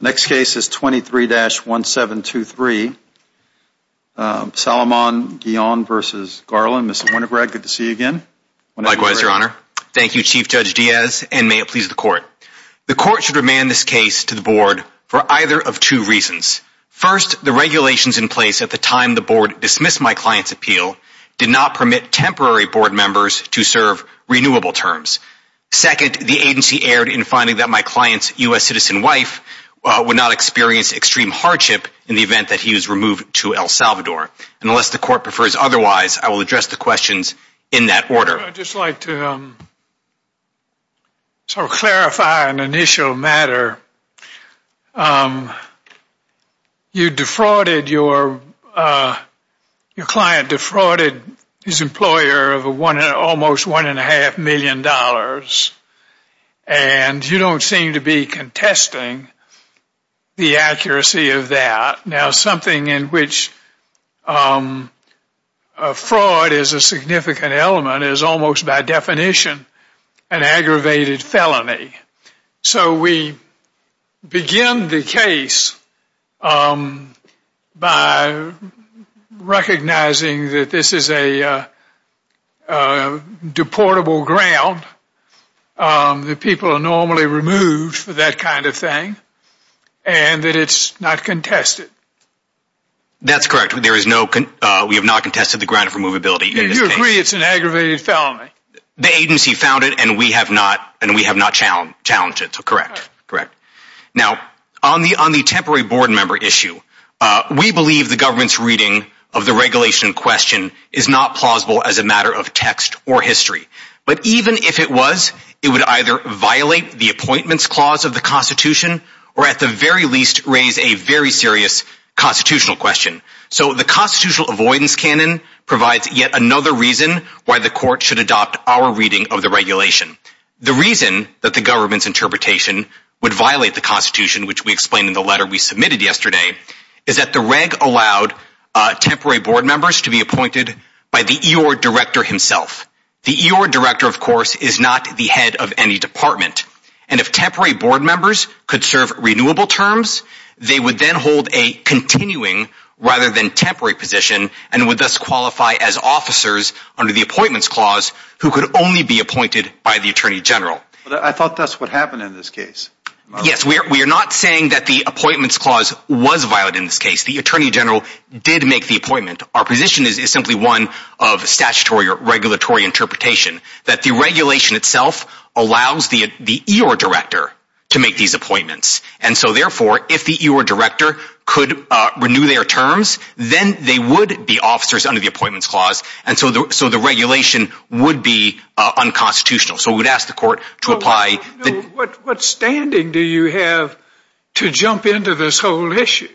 Next case is 23-1723. Saloman-Guillen v. Garland. Mr. Winograd, good to see you again. Likewise, your honor. Thank you, Chief Judge Diaz, and may it please the court. The court should remand this case to the board for either of two reasons. First, the regulations in place at the time the board dismissed my client's appeal did not permit temporary board members to serve renewable terms. Second, the agency erred in finding that my client's U.S. citizen wife would not experience extreme hardship in the event that he was removed to El Salvador. Unless the court prefers otherwise, I will address the questions in that order. I'd just like to clarify an initial matter. You defrauded, your client defrauded his employer of almost $1.5 million, and you don't seem to be contesting the accuracy of that. Now, something in which fraud is a significant element is almost by definition an aggravated deportable ground that people are normally removed for that kind of thing, and that it's not contested. That's correct. We have not contested the ground of removability. You agree it's an aggravated felony? The agency found it, and we have not challenged it, so correct. Now, on the temporary board member issue, we believe the government's reading of the regulation in question is not plausible as a matter of text or history. But even if it was, it would either violate the appointments clause of the Constitution, or at the very least raise a very serious constitutional question. So the constitutional avoidance canon provides yet another reason why the court should adopt our reading of the regulation. The reason that the government's interpretation would violate the Constitution, which we explained in the letter we submitted yesterday, is that the reg allowed temporary board members to be appointed by the E.O.R. director himself. The E.O.R. director, of course, is not the head of any department, and if temporary board members could serve renewable terms, they would then hold a continuing rather than temporary position, and would thus qualify as officers under the appointments clause who could only be appointed by the Attorney General. I thought that's what happened in this case. Yes, we are not saying that the appointments clause was violated in this case. The Attorney General did make the appointment. Our position is simply one of statutory or regulatory interpretation, that the regulation itself allows the E.O.R. director to make these appointments. And so therefore, if the E.O.R. director could renew their terms, then they would be officers under the appointments clause, and so the regulation would be unconstitutional. So we would ask the court to apply... What standing do you have to jump into this whole issue?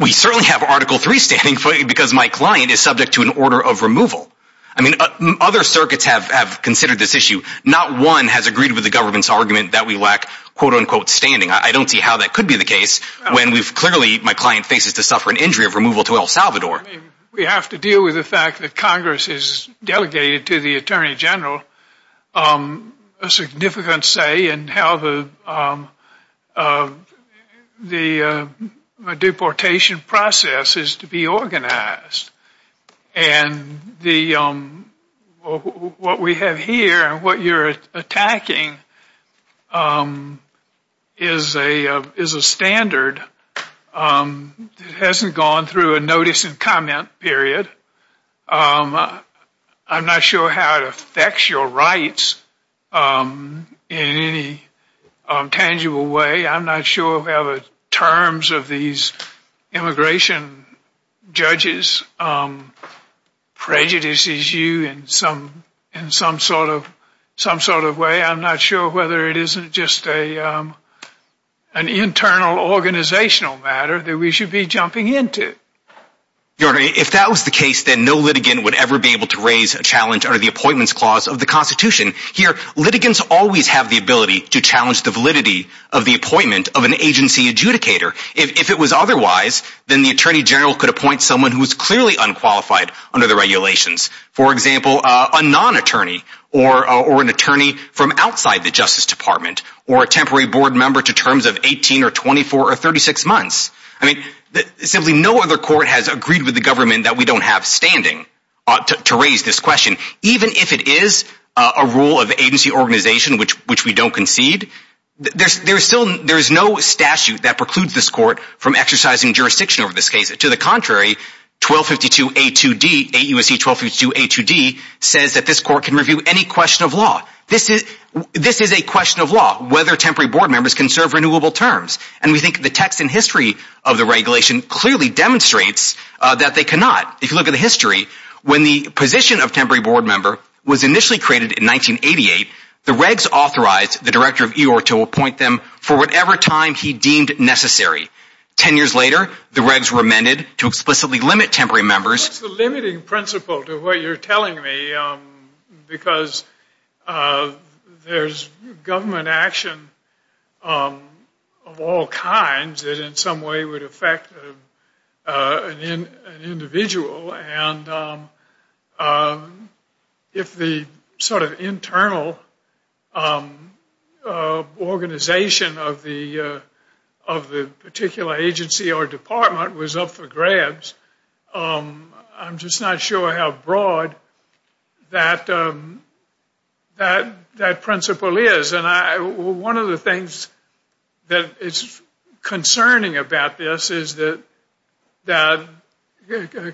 We certainly have Article 3 standing, because my client is subject to an order of removal. I mean, other circuits have considered this issue. Not one has agreed with the government's argument that we lack quote-unquote standing. I don't see how that could be the case, when we've clearly, my client faces to suffer an injury of removal to El Salvador. We have to deal with the fact that Congress has delegated to the Attorney General a significant say in how the deportation process is to be organized. And what we have here and what you're attacking is a standard that hasn't gone through a notice comment period. I'm not sure how it affects your rights in any tangible way. I'm not sure whether terms of these immigration judges prejudices you in some sort of way. I'm not sure whether it isn't just an internal organizational matter that we should be jumping into. If that was the case, then no litigant would ever be able to raise a challenge under the Appointments Clause of the Constitution. Here, litigants always have the ability to challenge the validity of the appointment of an agency adjudicator. If it was otherwise, then the Attorney General could appoint someone who is clearly unqualified under the regulations. For example, a non-attorney, or an attorney from outside the Justice Department, or a temporary board member to terms of 18, or 24, or 36 months. I mean, simply no other court has agreed with the government that we don't have standing to raise this question. Even if it is a rule of agency organization, which we don't concede, there is no statute that precludes this court from exercising jurisdiction over this case. To the contrary, 1252A2D, 8 U.S.C. 1252A2D says that this court can review any question of law. This is a question of law, whether temporary board members can serve renewable terms. And we think the text and history of the regulation clearly demonstrates that they cannot. If you look at the history, when the position of temporary board member was initially created in 1988, the regs authorized the Director of EOR to appoint them for whatever time he deemed necessary. Ten years later, the regs remanded to explicitly limit temporary members. What's the limiting principle to what you're telling me? Because there's government action of all kinds that in some way would affect an individual. And if the sort of internal organization of the particular agency or department was up for grabs, I'm just not sure how broad that principle is. And one of the things that is concerning about this is that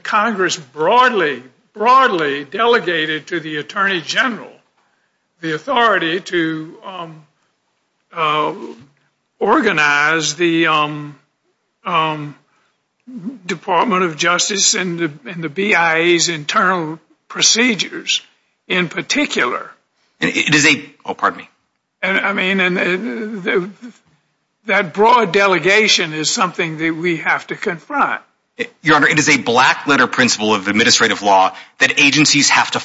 Congress broadly, broadly delegated to the Attorney General the authority to to organize the Department of Justice and the BIA's internal procedures in particular. I mean, that broad delegation is something that we have to confront. Your Honor, it is a black letter principle of administrative law that agencies have to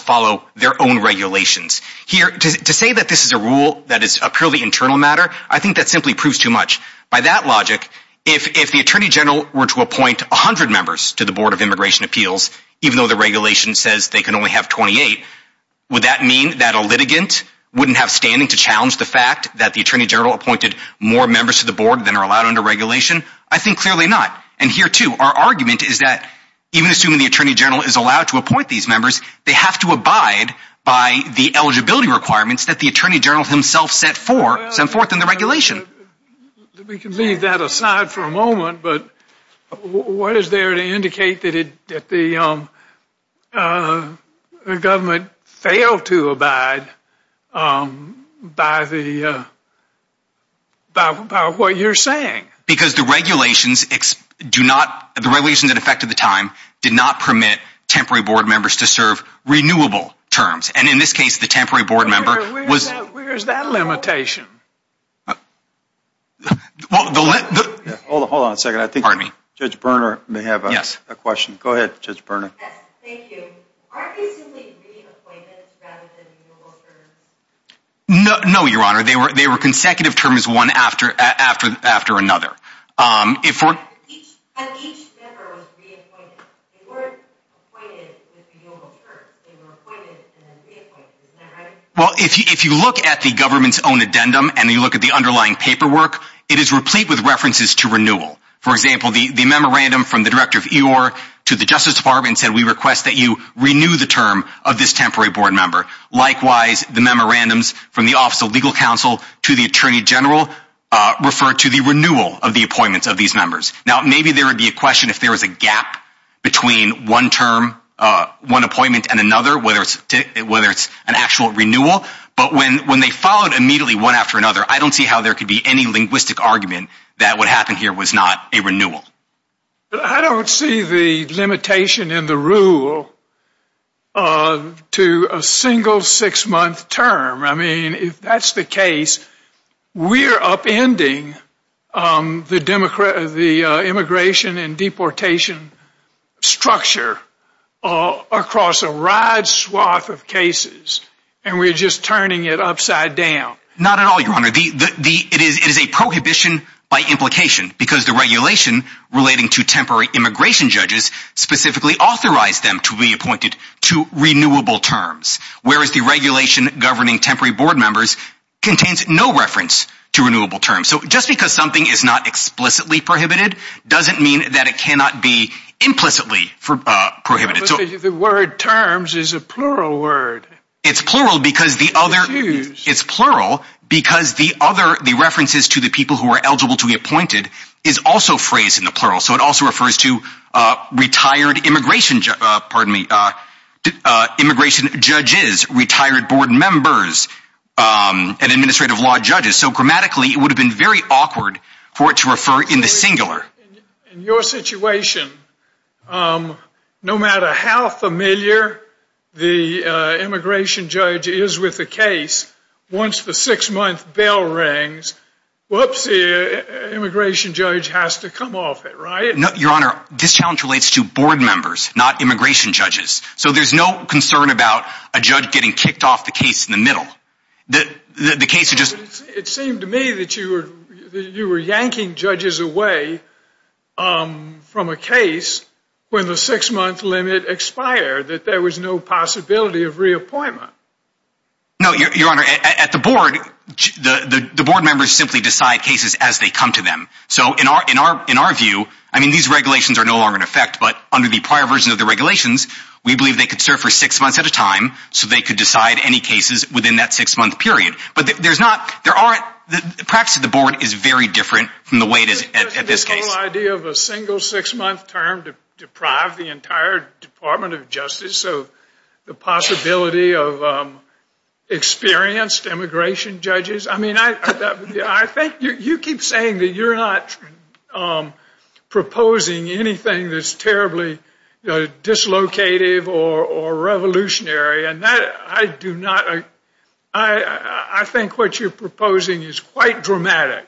their own regulations. To say that this is a rule that is a purely internal matter, I think that simply proves too much. By that logic, if the Attorney General were to appoint 100 members to the Board of Immigration Appeals, even though the regulation says they can only have 28, would that mean that a litigant wouldn't have standing to challenge the fact that the Attorney General appointed more members to the board than are allowed under regulation? I think clearly not. And here too, our argument is that even assuming the Attorney General is to appoint these members, they have to abide by the eligibility requirements that the Attorney General himself set forth in the regulation. We can leave that aside for a moment, but what is there to indicate that the government failed to abide by what you're saying? Because the regulations that affected the time did not permit temporary board members to serve renewable terms. And in this case, the temporary board member was... Where is that limitation? Hold on a second. I think Judge Berner may have a question. Go ahead, Judge Berner. Yes, thank you. Aren't these simply re-appointments rather than renewable terms? No, Your Honor. They were consecutive terms one after another. But each member was re-appointed. They weren't appointed with renewable terms. They were appointed and then re-appointed. Isn't that right? Well, if you look at the government's own addendum and you look at the underlying paperwork, it is replete with references to renewal. For example, the memorandum from the Director of EOR to the Justice Department said, we request that you renew the term of this temporary board member. Likewise, the memorandums from the Office of Legal Counsel to the Attorney General refer to the renewal of the appointments of these members. Now, maybe there would be a question if there was a gap between one term, one appointment and another, whether it's an actual renewal. But when they followed immediately one after another, I don't see how there could be any linguistic argument that what happened here was not a renewal. I don't see the limitation in the rule to a single six-month term. I mean, if that's the case, we're upending the immigration and deportation structure across a wide swath of cases and we're just turning it upside down. Not at all, Your Honor. It is a prohibition by implication because the regulation relating to temporary immigration judges specifically authorized them to be appointed to renewable terms, whereas the regulation governing temporary board members contains no reference to renewable terms. So just because something is not explicitly prohibited doesn't mean that it cannot be implicitly prohibited. But the word terms is a plural word. It's plural because the other... It's plural because the other, the references to the people who are eligible to be appointed is also phrased in the plural. So it also refers to retired immigration, pardon me, immigration judges, retired board members and administrative law judges. So grammatically, it would have been very awkward for it to refer in the singular. In your situation, no matter how familiar the immigration judge is with the case, once the six-month bell rings, whoopsie, immigration judge has to come off it, right? Your Honor, this challenge relates to board members, not immigration judges. So there's no concern about a judge getting kicked off the case in the middle. The case is just... It seemed to me that you were yanking judges away from a case when the six-month limit expired, that there was no possibility of reappointment. No, Your Honor, at the board, the board members simply decide cases as they come to them. So in our view, I mean, these regulations are no longer in effect, but under the prior version of the regulations, we believe they could serve for six months at a time so they could decide any cases within that six-month period. But perhaps the board is very different from the way it is at this case. The whole idea of a single six-month term to deprive the entire Department of Justice of the possibility of experienced immigration judges, I mean, I think you keep saying that you're not proposing anything that's terribly dislocative or revolutionary, and that I do not... I think what you're proposing is quite dramatic.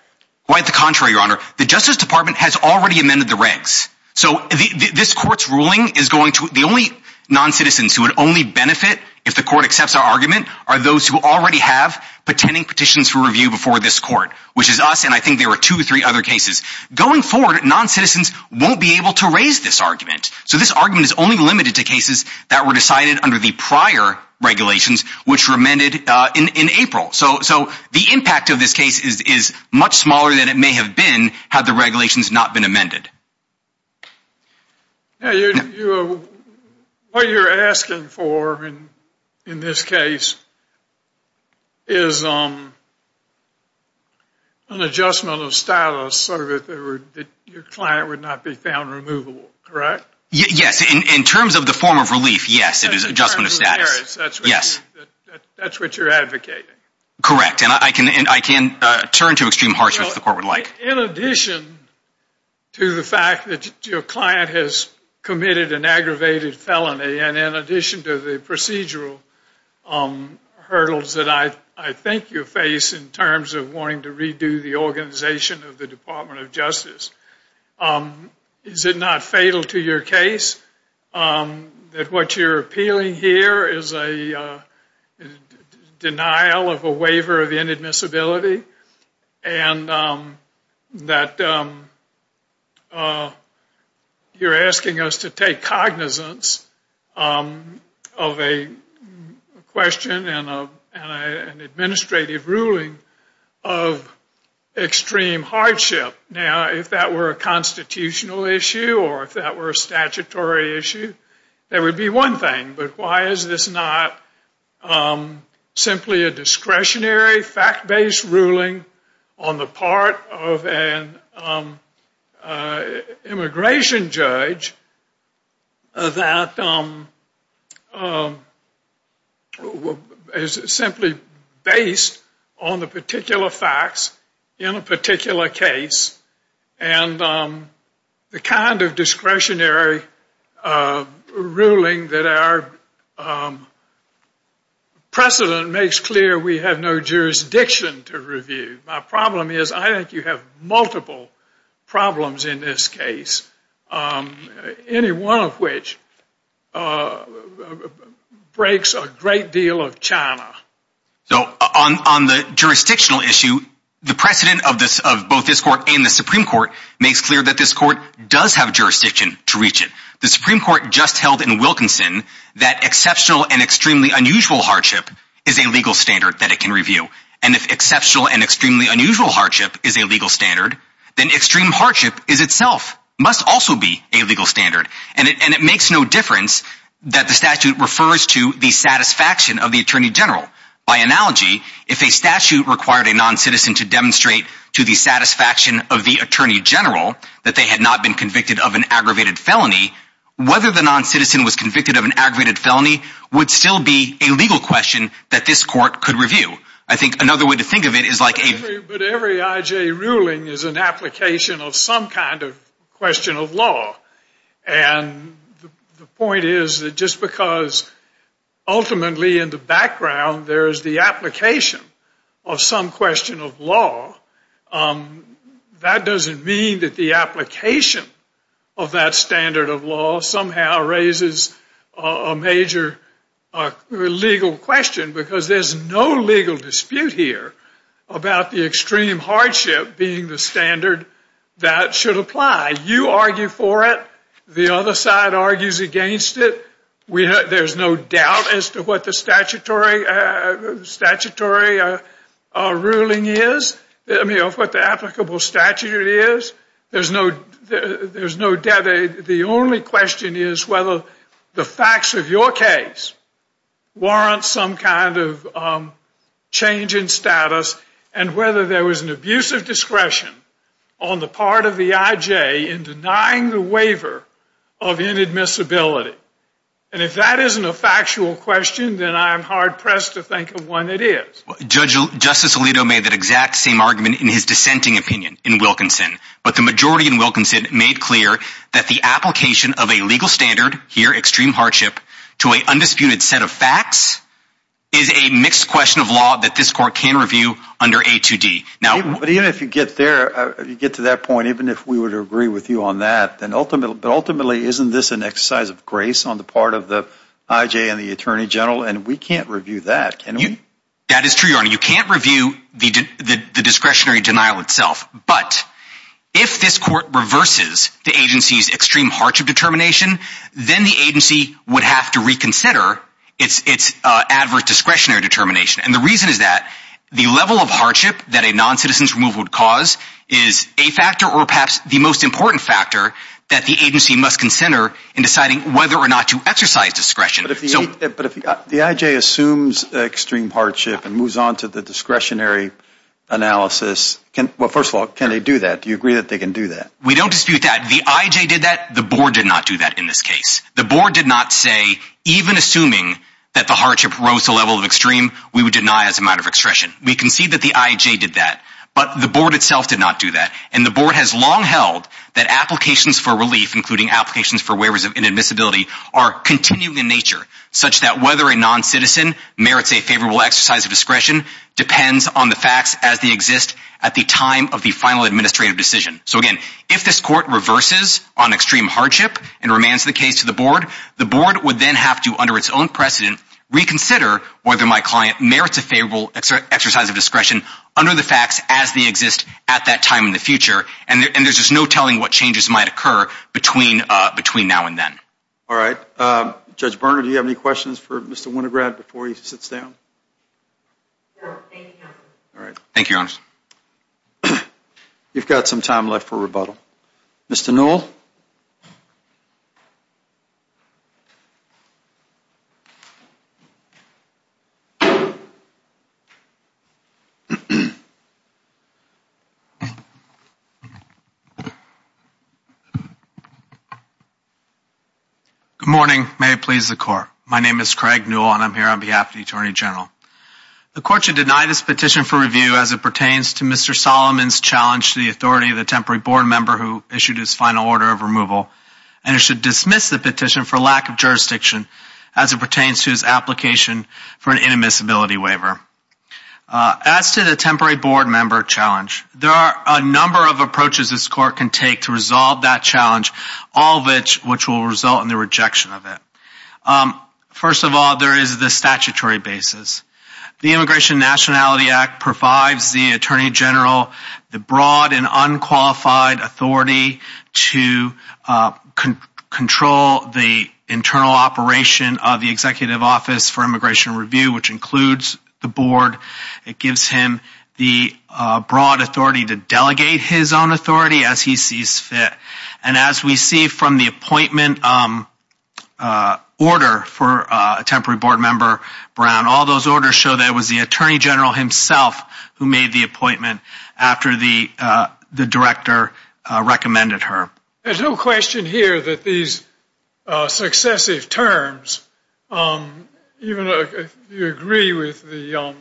Quite the contrary, Your Honor. The Justice Department has already amended the regs. So this court's ruling is going to... The only non-citizens who would only benefit if the court accepts our argument are those who already have pretending petitions for review before this court, which is us, and I think there were two or three other cases. Going forward, non-citizens won't be able to raise this argument. So this argument is only limited to cases that were decided under the prior regulations, which were amended in April. So the impact of this case is much smaller than it may have been had the regulations not been amended. Now, what you're asking for in this case is an adjustment of status so that your client would not be found removable, correct? Yes, in terms of the form of relief, yes, it is adjustment of status. That's what you're advocating. Correct, and I can turn to extreme harshness if the court would like. In addition to the fact that your client has committed an aggravated felony and in addition to the procedural hurdles that I think you face in terms of wanting to redo the organization of the Department of Justice, is it not fatal to your case that what you're appealing here is a denial of a waiver of inadmissibility and that you're asking us to take cognizance of a question and an administrative ruling of extreme hardship? Now, if that were a constitutional issue or if that were a statutory issue, that would be one thing, but why is this not simply a discretionary fact-based ruling on the part of an immigration judge that is simply based on the particular facts in a particular case and the kind of discretionary ruling that our precedent makes clear we have no jurisdiction to review? My problem is I think you have multiple problems in this case, any one of which breaks a great deal of China. So on the jurisdictional issue, the precedent of both this court and the Supreme Court makes clear that this court does have jurisdiction to reach it. The Supreme Court just held in Wilkinson that exceptional and extremely unusual hardship is a legal standard that it can review, and if exceptional and extremely unusual hardship is a legal standard, then extreme hardship is itself must also be a legal standard. And it makes no difference that the statute refers to the satisfaction of the Attorney General. By analogy, if a statute required a non-citizen to demonstrate to the satisfaction of the Attorney General that they had not been convicted of an aggravated felony, whether the non-citizen was convicted of an aggravated felony would still be a legal question that this court could review. I think another way to think of it is like a... But every I.J. ruling is an application of some kind of question of law. And the point is that just because ultimately in the background there is the application of some question of law, that doesn't mean that the application of that standard of law somehow raises a major legal question, because there's no legal dispute here about the extreme hardship being the standard that should apply. You argue for it, the other side argues against it. There's no doubt as to what the statutory ruling is, I mean of what the applicable statute is. There's no doubt. The only question is whether the facts of your case warrant some kind of change in status and whether there was an abuse of discretion on the part of the I.J. in denying the waiver of inadmissibility. And if that isn't a factual question, then I'm hard-pressed to think of one it is. Justice Alito made that exact same argument in his dissenting opinion in Wilkinson, but the majority in Wilkinson made clear that the application of a legal standard, here extreme hardship, to a undisputed set of facts is a mixed question of law that this court can review under A2D. But even if you get to that point, even if we were to agree with you on that, then ultimately isn't this an exercise of grace on the part of the I.J. and the Attorney General, and we can't review that, can we? That is true, Your Honor. You can't review the discretionary denial itself. But if this court reverses the agency's extreme hardship determination, then the agency would have to reconsider its adverse discretionary determination. And the reason is that the level of hardship that a non-citizen's removal would cause is a factor or perhaps the most important factor that the agency must consider in deciding whether or not to exercise discretion. But if the I.J. assumes extreme hardship and moves on to the analysis, well, first of all, can they do that? Do you agree that they can do that? We don't dispute that. The I.J. did that. The board did not do that in this case. The board did not say, even assuming that the hardship rose to a level of extreme, we would deny as a matter of expression. We concede that the I.J. did that, but the board itself did not do that. And the board has long held that applications for relief, including applications for waivers of inadmissibility, are continuing in nature, such that whether a non-citizen merits a favorable exercise of discretion depends on the facts as they exist at the time of the final administrative decision. So again, if this court reverses on extreme hardship and remands the case to the board, the board would then have to, under its own precedent, reconsider whether my client merits a favorable exercise of discretion under the facts as they exist at that time in the future. And there's just no telling what changes might occur between now and then. All right. Judge Berner, do you have any questions for Mr. Winograd before he sits down? No. Thank you, Counselor. All right. Thank you, Your Honor. You've got some time left for rebuttal. Mr. Newell? Good morning. May it please the Court. My name is Craig Newell, and I'm here on behalf of the Attorney General. The Court should deny this petition for review as it pertains to Mr. Winograd's order of removal, and it should dismiss the petition for lack of jurisdiction as it pertains to his application for an inadmissibility waiver. As to the temporary board member challenge, there are a number of approaches this Court can take to resolve that challenge, all of which will result in the rejection of it. First of all, there is the statutory basis. The Immigration and Nationality Act provides the Attorney General the broad and unqualified authority to control the internal operation of the Executive Office for Immigration Review, which includes the board. It gives him the broad authority to delegate his own authority as he sees fit. And as we see from the appointment order for a temporary board member, Brown, all show that it was the Attorney General himself who made the appointment after the Director recommended her. There's no question here that these successive terms, even if you agree with the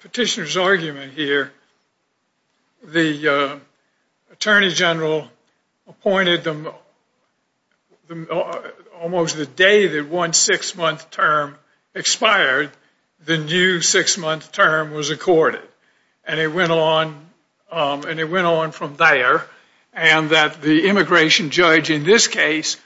petitioner's argument here, the Attorney General appointed them almost the day that one six-month term expired, the new six-month term was accorded. And it went on from there, and that the Immigration Judge in this case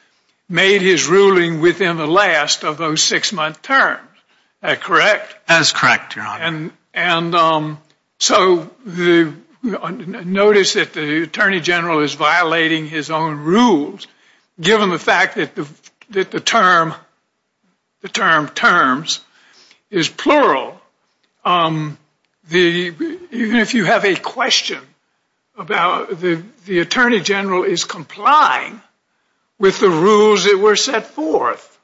made his ruling within the last of those six-month terms. Is that correct? That is correct, Your Honor. And so notice that the Attorney General is violating his own rules, given the fact that the term terms is plural. Even if you have a question about the Attorney General is complying with the rules that were set forth.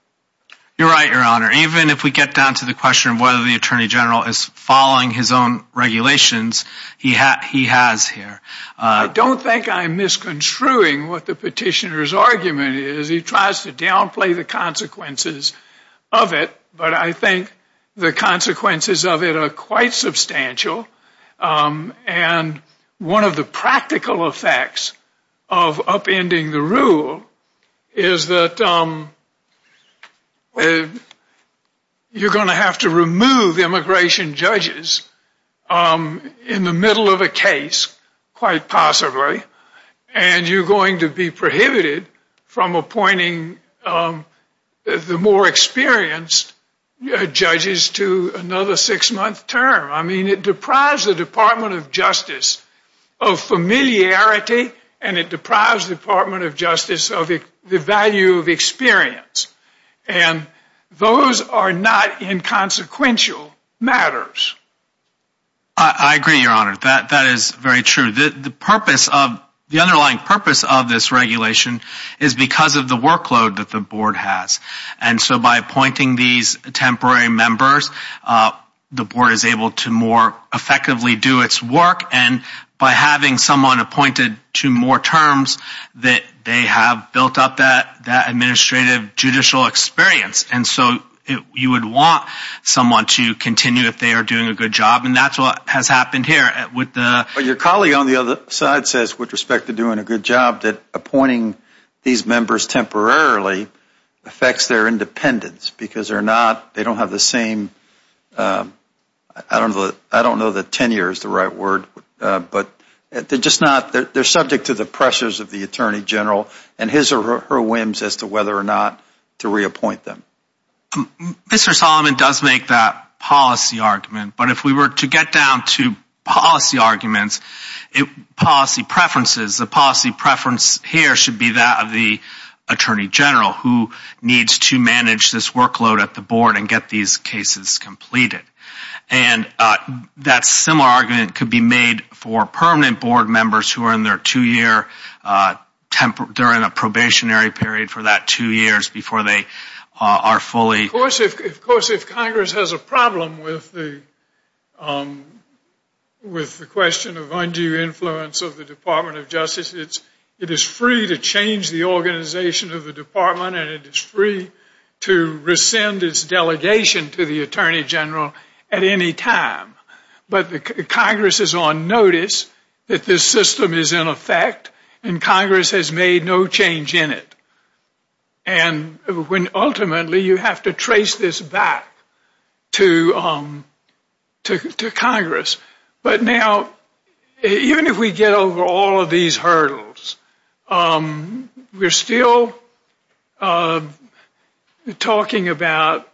You're right, Your Honor. Even if we get down to the question of whether the Attorney General is following his own regulations, he has here. I don't think I'm misconstruing what the petitioner's argument is. He tries to downplay the consequences of it, but I think the consequences of it are quite substantial. And one of the practical effects of upending the rule is that you're going to have to remove immigration judges in the middle of a case, quite possibly, and you're going to be prohibited from appointing the more experienced judges to another six-month term. I mean, it deprives the Department of Justice of familiarity, and it deprives the Department of experience. And those are not inconsequential matters. I agree, Your Honor. That is very true. The underlying purpose of this regulation is because of the workload that the board has. And so by appointing these temporary members, the board is able to more effectively do its work. And by having someone appointed to more terms, they have built up that administrative judicial experience. And so you would want someone to continue if they are doing a good job. And that's what has happened here. But your colleague on the other side says, with respect to doing a good job, that appointing these members temporarily affects their independence because they don't have the same, I don't know that tenure is the right word, but they're subject to the pressures of the Attorney General and his or her whims as to whether or not to reappoint them. Mr. Solomon does make that policy argument. But if we were to get down to policy arguments, policy preferences, the policy preference here should be that of the Attorney General who needs to manage this workload at the time the case is completed. And that similar argument could be made for permanent board members who are in their two-year, they're in a probationary period for that two years before they are fully... Of course, if Congress has a problem with the question of undue influence of the Department of Justice, it is free to change the organization of the department and it is free to rescind its delegation to the Attorney General at any time. But Congress is on notice that this system is in effect and Congress has made no change in it. And when ultimately you have to trace this back to Congress. But now, even if we get over all of these hurdles, we're still talking about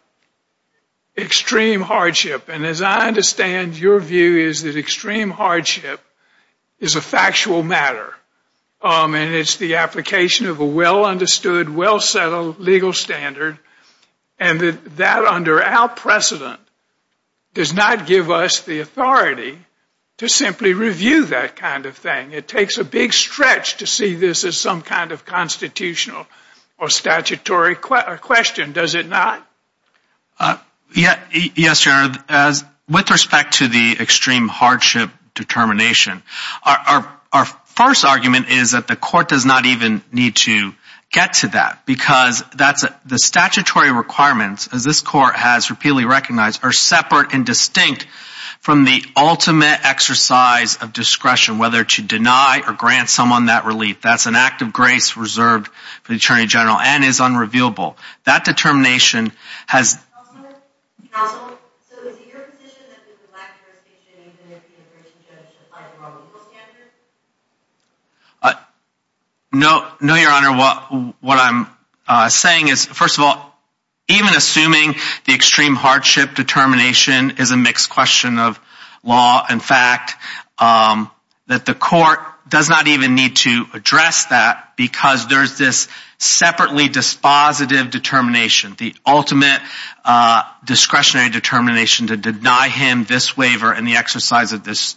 extreme hardship. And as I understand, your view is that extreme hardship is a factual matter. And it's the application of a well-understood, well-settled legal standard. And that under our precedent does not give us the authority to simply review that kind of thing. It takes a big stretch to see this as some kind of constitutional or statutory question, does it not? Yes, your honor. With respect to the extreme hardship determination, our first argument is that the court does not even need to get to that because that's the statutory requirements as this court has repeatedly recognized are separate and distinct from the ultimate exercise of discretion, whether to deny or grant someone that relief. That's an act of grace reserved for the Attorney General and is unrevealable. That determination has... Counsel, so is it your position that there's a lack of jurisdiction even if you're a person judged to apply the wrong legal standards? No, your honor. What I'm saying is, first of all, even assuming the extreme hardship determination is a mixed question of law and fact, that the court does not even need to address that because there's this separately dispositive determination, the ultimate discretionary determination to deny him this waiver and the exercise of this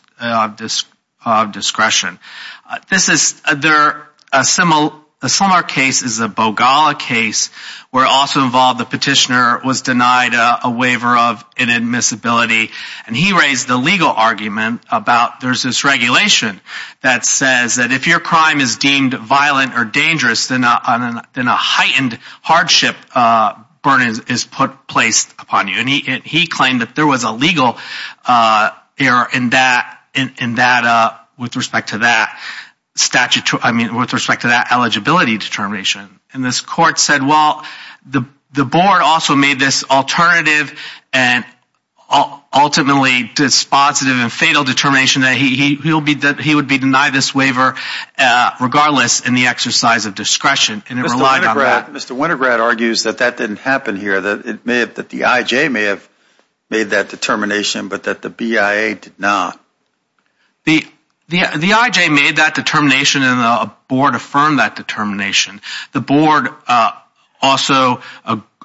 discretion. A similar case is the Bogala case where it also involved the petitioner was denied a waiver of inadmissibility. And he raised the legal argument about there's this regulation that says that if your crime is deemed violent or dangerous, then a heightened hardship burden is placed upon you. And he claimed that there was a legal error in that with respect to that eligibility determination. And this court said, well, the board also made this alternative and ultimately dispositive and fatal determination that he would be denied this regardless in the exercise of discretion. And it relied on that. Mr. Wintergrad argues that that didn't happen here, that the IJ may have made that determination, but that the BIA did not. The IJ made that determination and the board affirmed that determination. The board also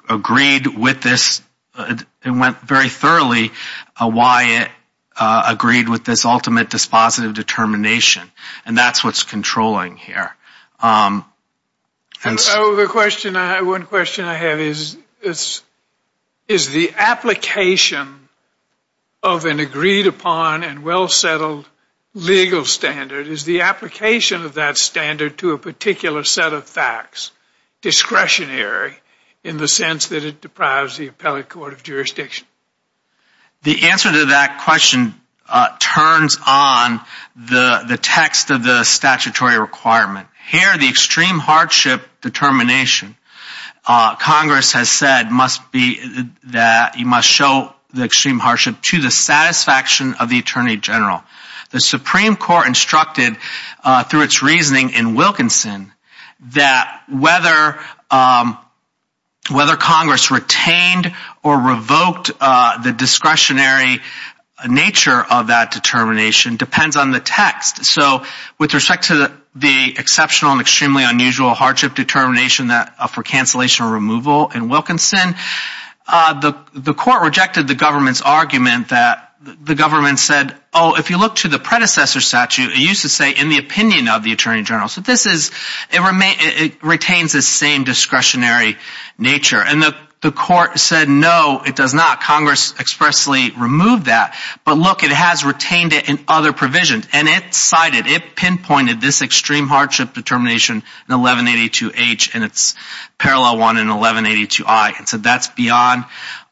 agreed with this and went very thoroughly why it agreed with this ultimate dispositive determination. And that's what's controlling here. So the question I have, one question I have is, is the application of an agreed upon and well settled legal standard, is the application of that standard to a particular set of facts discretionary in the sense that it deprives the appellate court of jurisdiction? The answer to that question turns on the text of the statutory requirement. Here, the extreme hardship determination, Congress has said must be that you must show the extreme hardship to the satisfaction of the Attorney General. The Supreme Court instructed through its reasoning in Wilkinson that whether Congress retained or revoked the discretionary nature of that determination depends on the text. So with respect to the exceptional and extremely unusual hardship determination for cancellation or removal in Wilkinson, the court rejected the government's argument that the government said, oh, if you look to the predecessor statute, it used to say in the opinion of the Attorney General. So it retains the same discretionary nature. And the court said, no, it does not. Congress expressly removed that. But look, it has retained it in other provisions. And it cited, it pinpointed this extreme hardship determination in 1182H and its parallel one in 1182I. And so that's beyond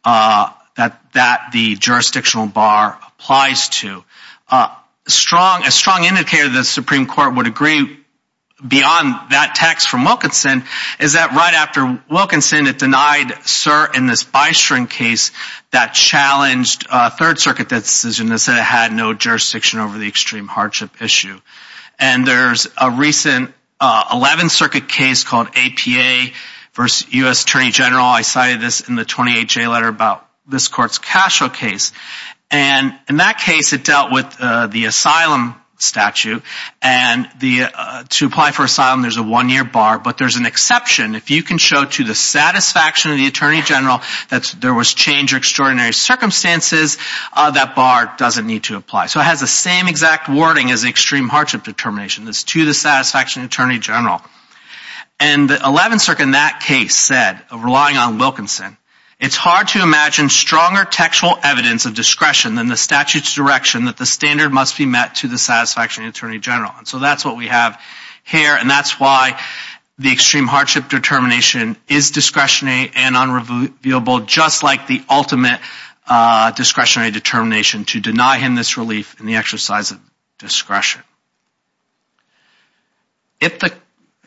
that the jurisdictional bar applies to. A strong indicator the Supreme Court would agree beyond that text from Wilkinson is that right after Wilkinson, it denied cert in this Bystrom case that challenged a Third Circuit decision that said it had no jurisdiction over the extreme hardship issue. And there's a recent 11th Circuit case called APA v. U.S. Attorney General. I cited this in the 28J letter about this court's Cashel case. And in that case, it dealt with the asylum statute. And to apply for asylum, there's a one-year bar. But there's an exception. If you can show to the satisfaction of the Attorney General that there was change or extraordinary circumstances, that bar doesn't need to apply. So it has the same exact wording as the extreme hardship determination. It's to the satisfaction of the Attorney General. And the 11th Circuit in that case said, relying on Wilkinson, it's hard to imagine stronger textual evidence of discretion than the statute's direction that the standard must be met to the satisfaction of the Attorney General. And so that's what we have here. And that's why the extreme hardship determination is discretionary and unreviewable, just like the ultimate discretionary determination to deny him relief in the exercise of discretion.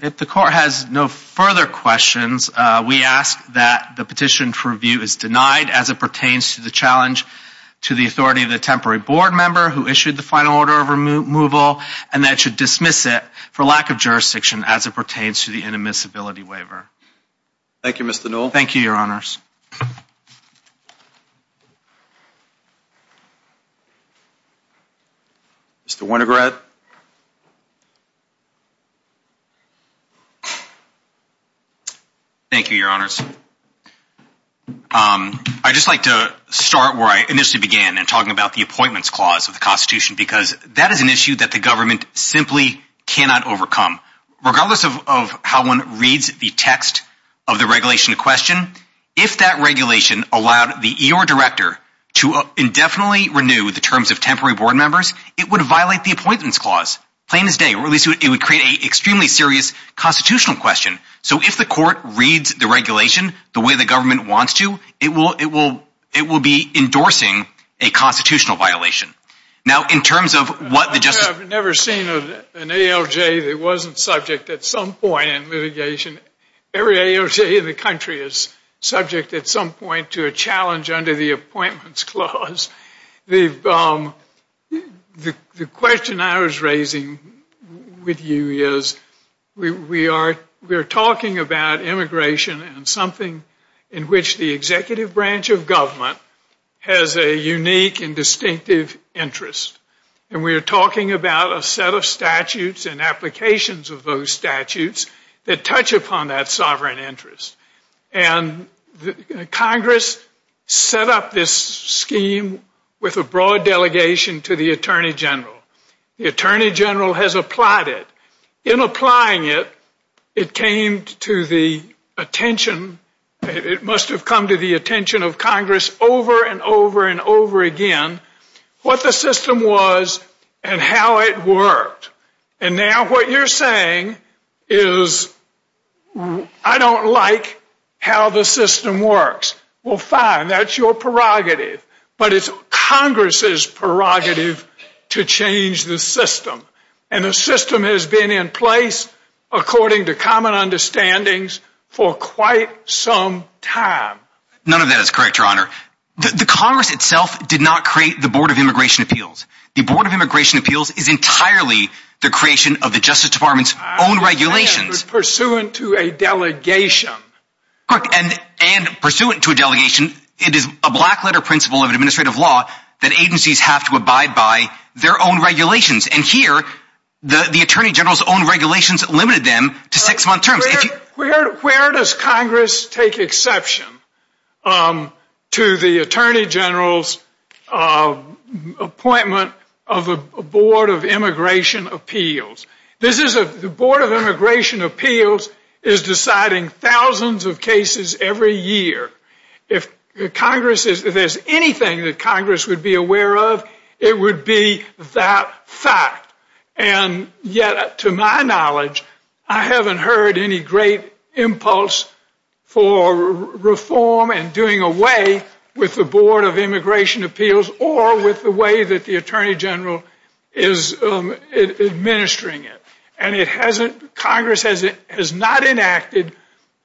If the court has no further questions, we ask that the petition for review is denied as it pertains to the challenge to the authority of the temporary board member who issued the final order of removal, and that it should dismiss it for lack of jurisdiction as it pertains to the inadmissibility waiver. Thank you, Mr. Newell. Thank you, Mr. Winograd. Thank you, Your Honors. I'd just like to start where I initially began in talking about the appointments clause of the Constitution, because that is an issue that the government simply cannot overcome. Regardless of how one reads the text of the regulation in question, if that allowed the E.R. Director to indefinitely renew the terms of temporary board members, it would violate the appointments clause, plain as day, or at least it would create an extremely serious constitutional question. So if the court reads the regulation the way the government wants to, it will be endorsing a constitutional violation. Now, in terms of what the Justice— I've never seen an ALJ that wasn't subject at some point in litigation. Every ALJ in the country is subject at some point to a challenge under the appointments clause. The question I was raising with you is, we are talking about immigration and something in which the executive branch of government has a unique and distinctive interest. And we are talking about a set of statutes and of those statutes that touch upon that sovereign interest. And Congress set up this scheme with a broad delegation to the Attorney General. The Attorney General has applied it. In applying it, it came to the attention—it must have come to the attention of Congress over and over and over again what the system was and how it worked. And now what you're saying is, I don't like how the system works. Well, fine, that's your prerogative. But it's Congress's prerogative to change the system. And the system has been in place, according to common understandings, for quite some time. None of that is correct, Your Honor. The Congress itself did not create the Board of Immigration Appeals. The Board of Immigration Appeals is entirely the creation of the Justice Department's own regulations. I understand, but pursuant to a delegation. Correct. And pursuant to a delegation, it is a black letter principle of administrative law that agencies have to abide by their own regulations. And here, the Attorney General's own regulations limited them to six-month terms. Where does Congress take exception to the Attorney General's appointment of a Board of Immigration Appeals? This is a—the Board of Immigration Appeals is deciding thousands of cases every year. If Congress is—if there's anything that Congress would be aware of, it would be that fact. And yet, to my knowledge, I haven't heard any great impulse for reform and doing away with the Board of Immigration Appeals or with the way that the Attorney General is administering it. And it hasn't—Congress has not enacted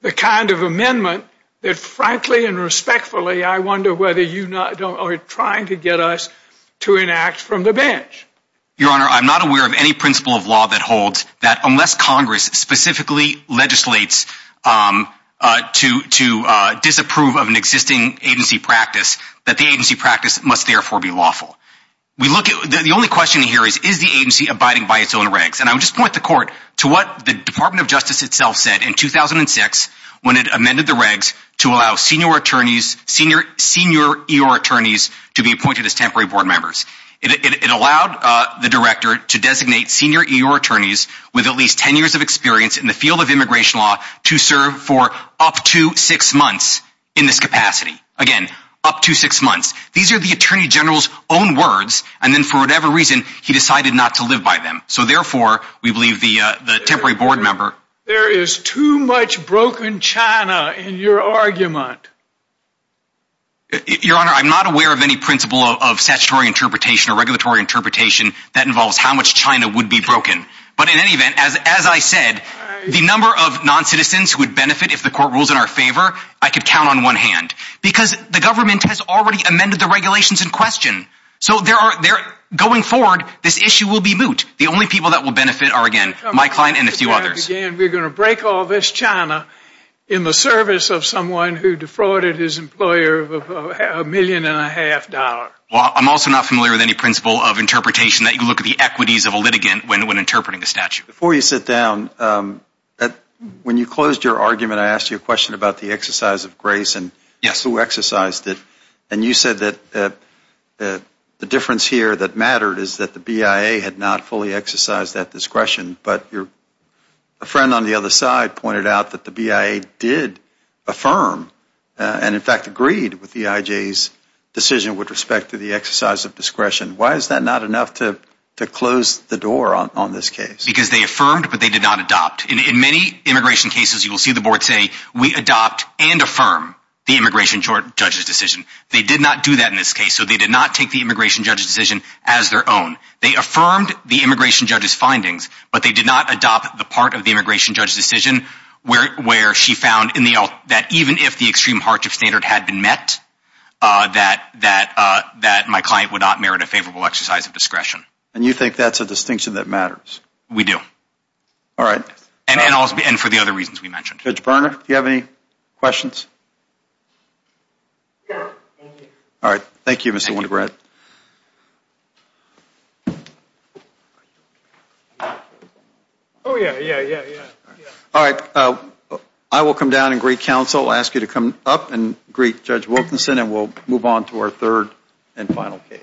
the kind of amendment that, frankly and respectfully, I wonder whether you are trying to get us to enact from the bench. Your Honor, I'm not aware of any principle of that holds that, unless Congress specifically legislates to disapprove of an existing agency practice, that the agency practice must therefore be lawful. We look at—the only question here is, is the agency abiding by its own regs? And I would just point the Court to what the Department of Justice itself said in 2006 when it amended the regs to allow senior attorneys—senior attorneys to be appointed as temporary board members. It allowed the Director to designate senior EO attorneys with at least 10 years of experience in the field of immigration law to serve for up to six months in this capacity. Again, up to six months. These are the Attorney General's own words, and then for whatever reason, he decided not to live by them. So therefore, we believe the temporary board member— There is too much broken China in your argument. Your Honor, I'm not aware of any principle of statutory interpretation or regulatory interpretation that involves how much China would be broken. But in any event, as I said, the number of non-citizens who would benefit if the Court rules in our favor, I could count on one hand. Because the government has already amended the regulations in question. So there are—going forward, this issue will be moot. The only people that will benefit are, again, my client and a few others. We're going to break all this China in the service of someone who defrauded his employer of a million and a half dollars. I'm also not familiar with any principle of interpretation that you look at the equities of a litigant when interpreting a statute. Before you sit down, when you closed your argument, I asked you a question about the exercise of grace and who exercised it. And you said that the difference here that mattered is that the BIA had not fully exercised that discretion. But a friend on the other side pointed out that the BIA did affirm and, in fact, agreed with the IJ's decision with respect to the exercise of discretion. Why is that not enough to close the door on this case? Because they affirmed, but they did not adopt. In many immigration cases, you will see the board say, we adopt and affirm the immigration judge's decision. They did not do that in this case. So they did not take the immigration judge's decision as their own. They affirmed the immigration judge's findings, but they did not adopt the immigration judge's decision, where she found that even if the extreme hardship standard had been met, that my client would not merit a favorable exercise of discretion. And you think that's a distinction that matters? We do. All right. And for the other reasons we mentioned. Judge Berner, do you have any questions? All right. Thank you, Mr. Wunderbrand. Oh, yeah, yeah, yeah, yeah. All right. I will come down and greet counsel, ask you to come up and greet Judge Wilkinson, and we'll move on to our third and final case.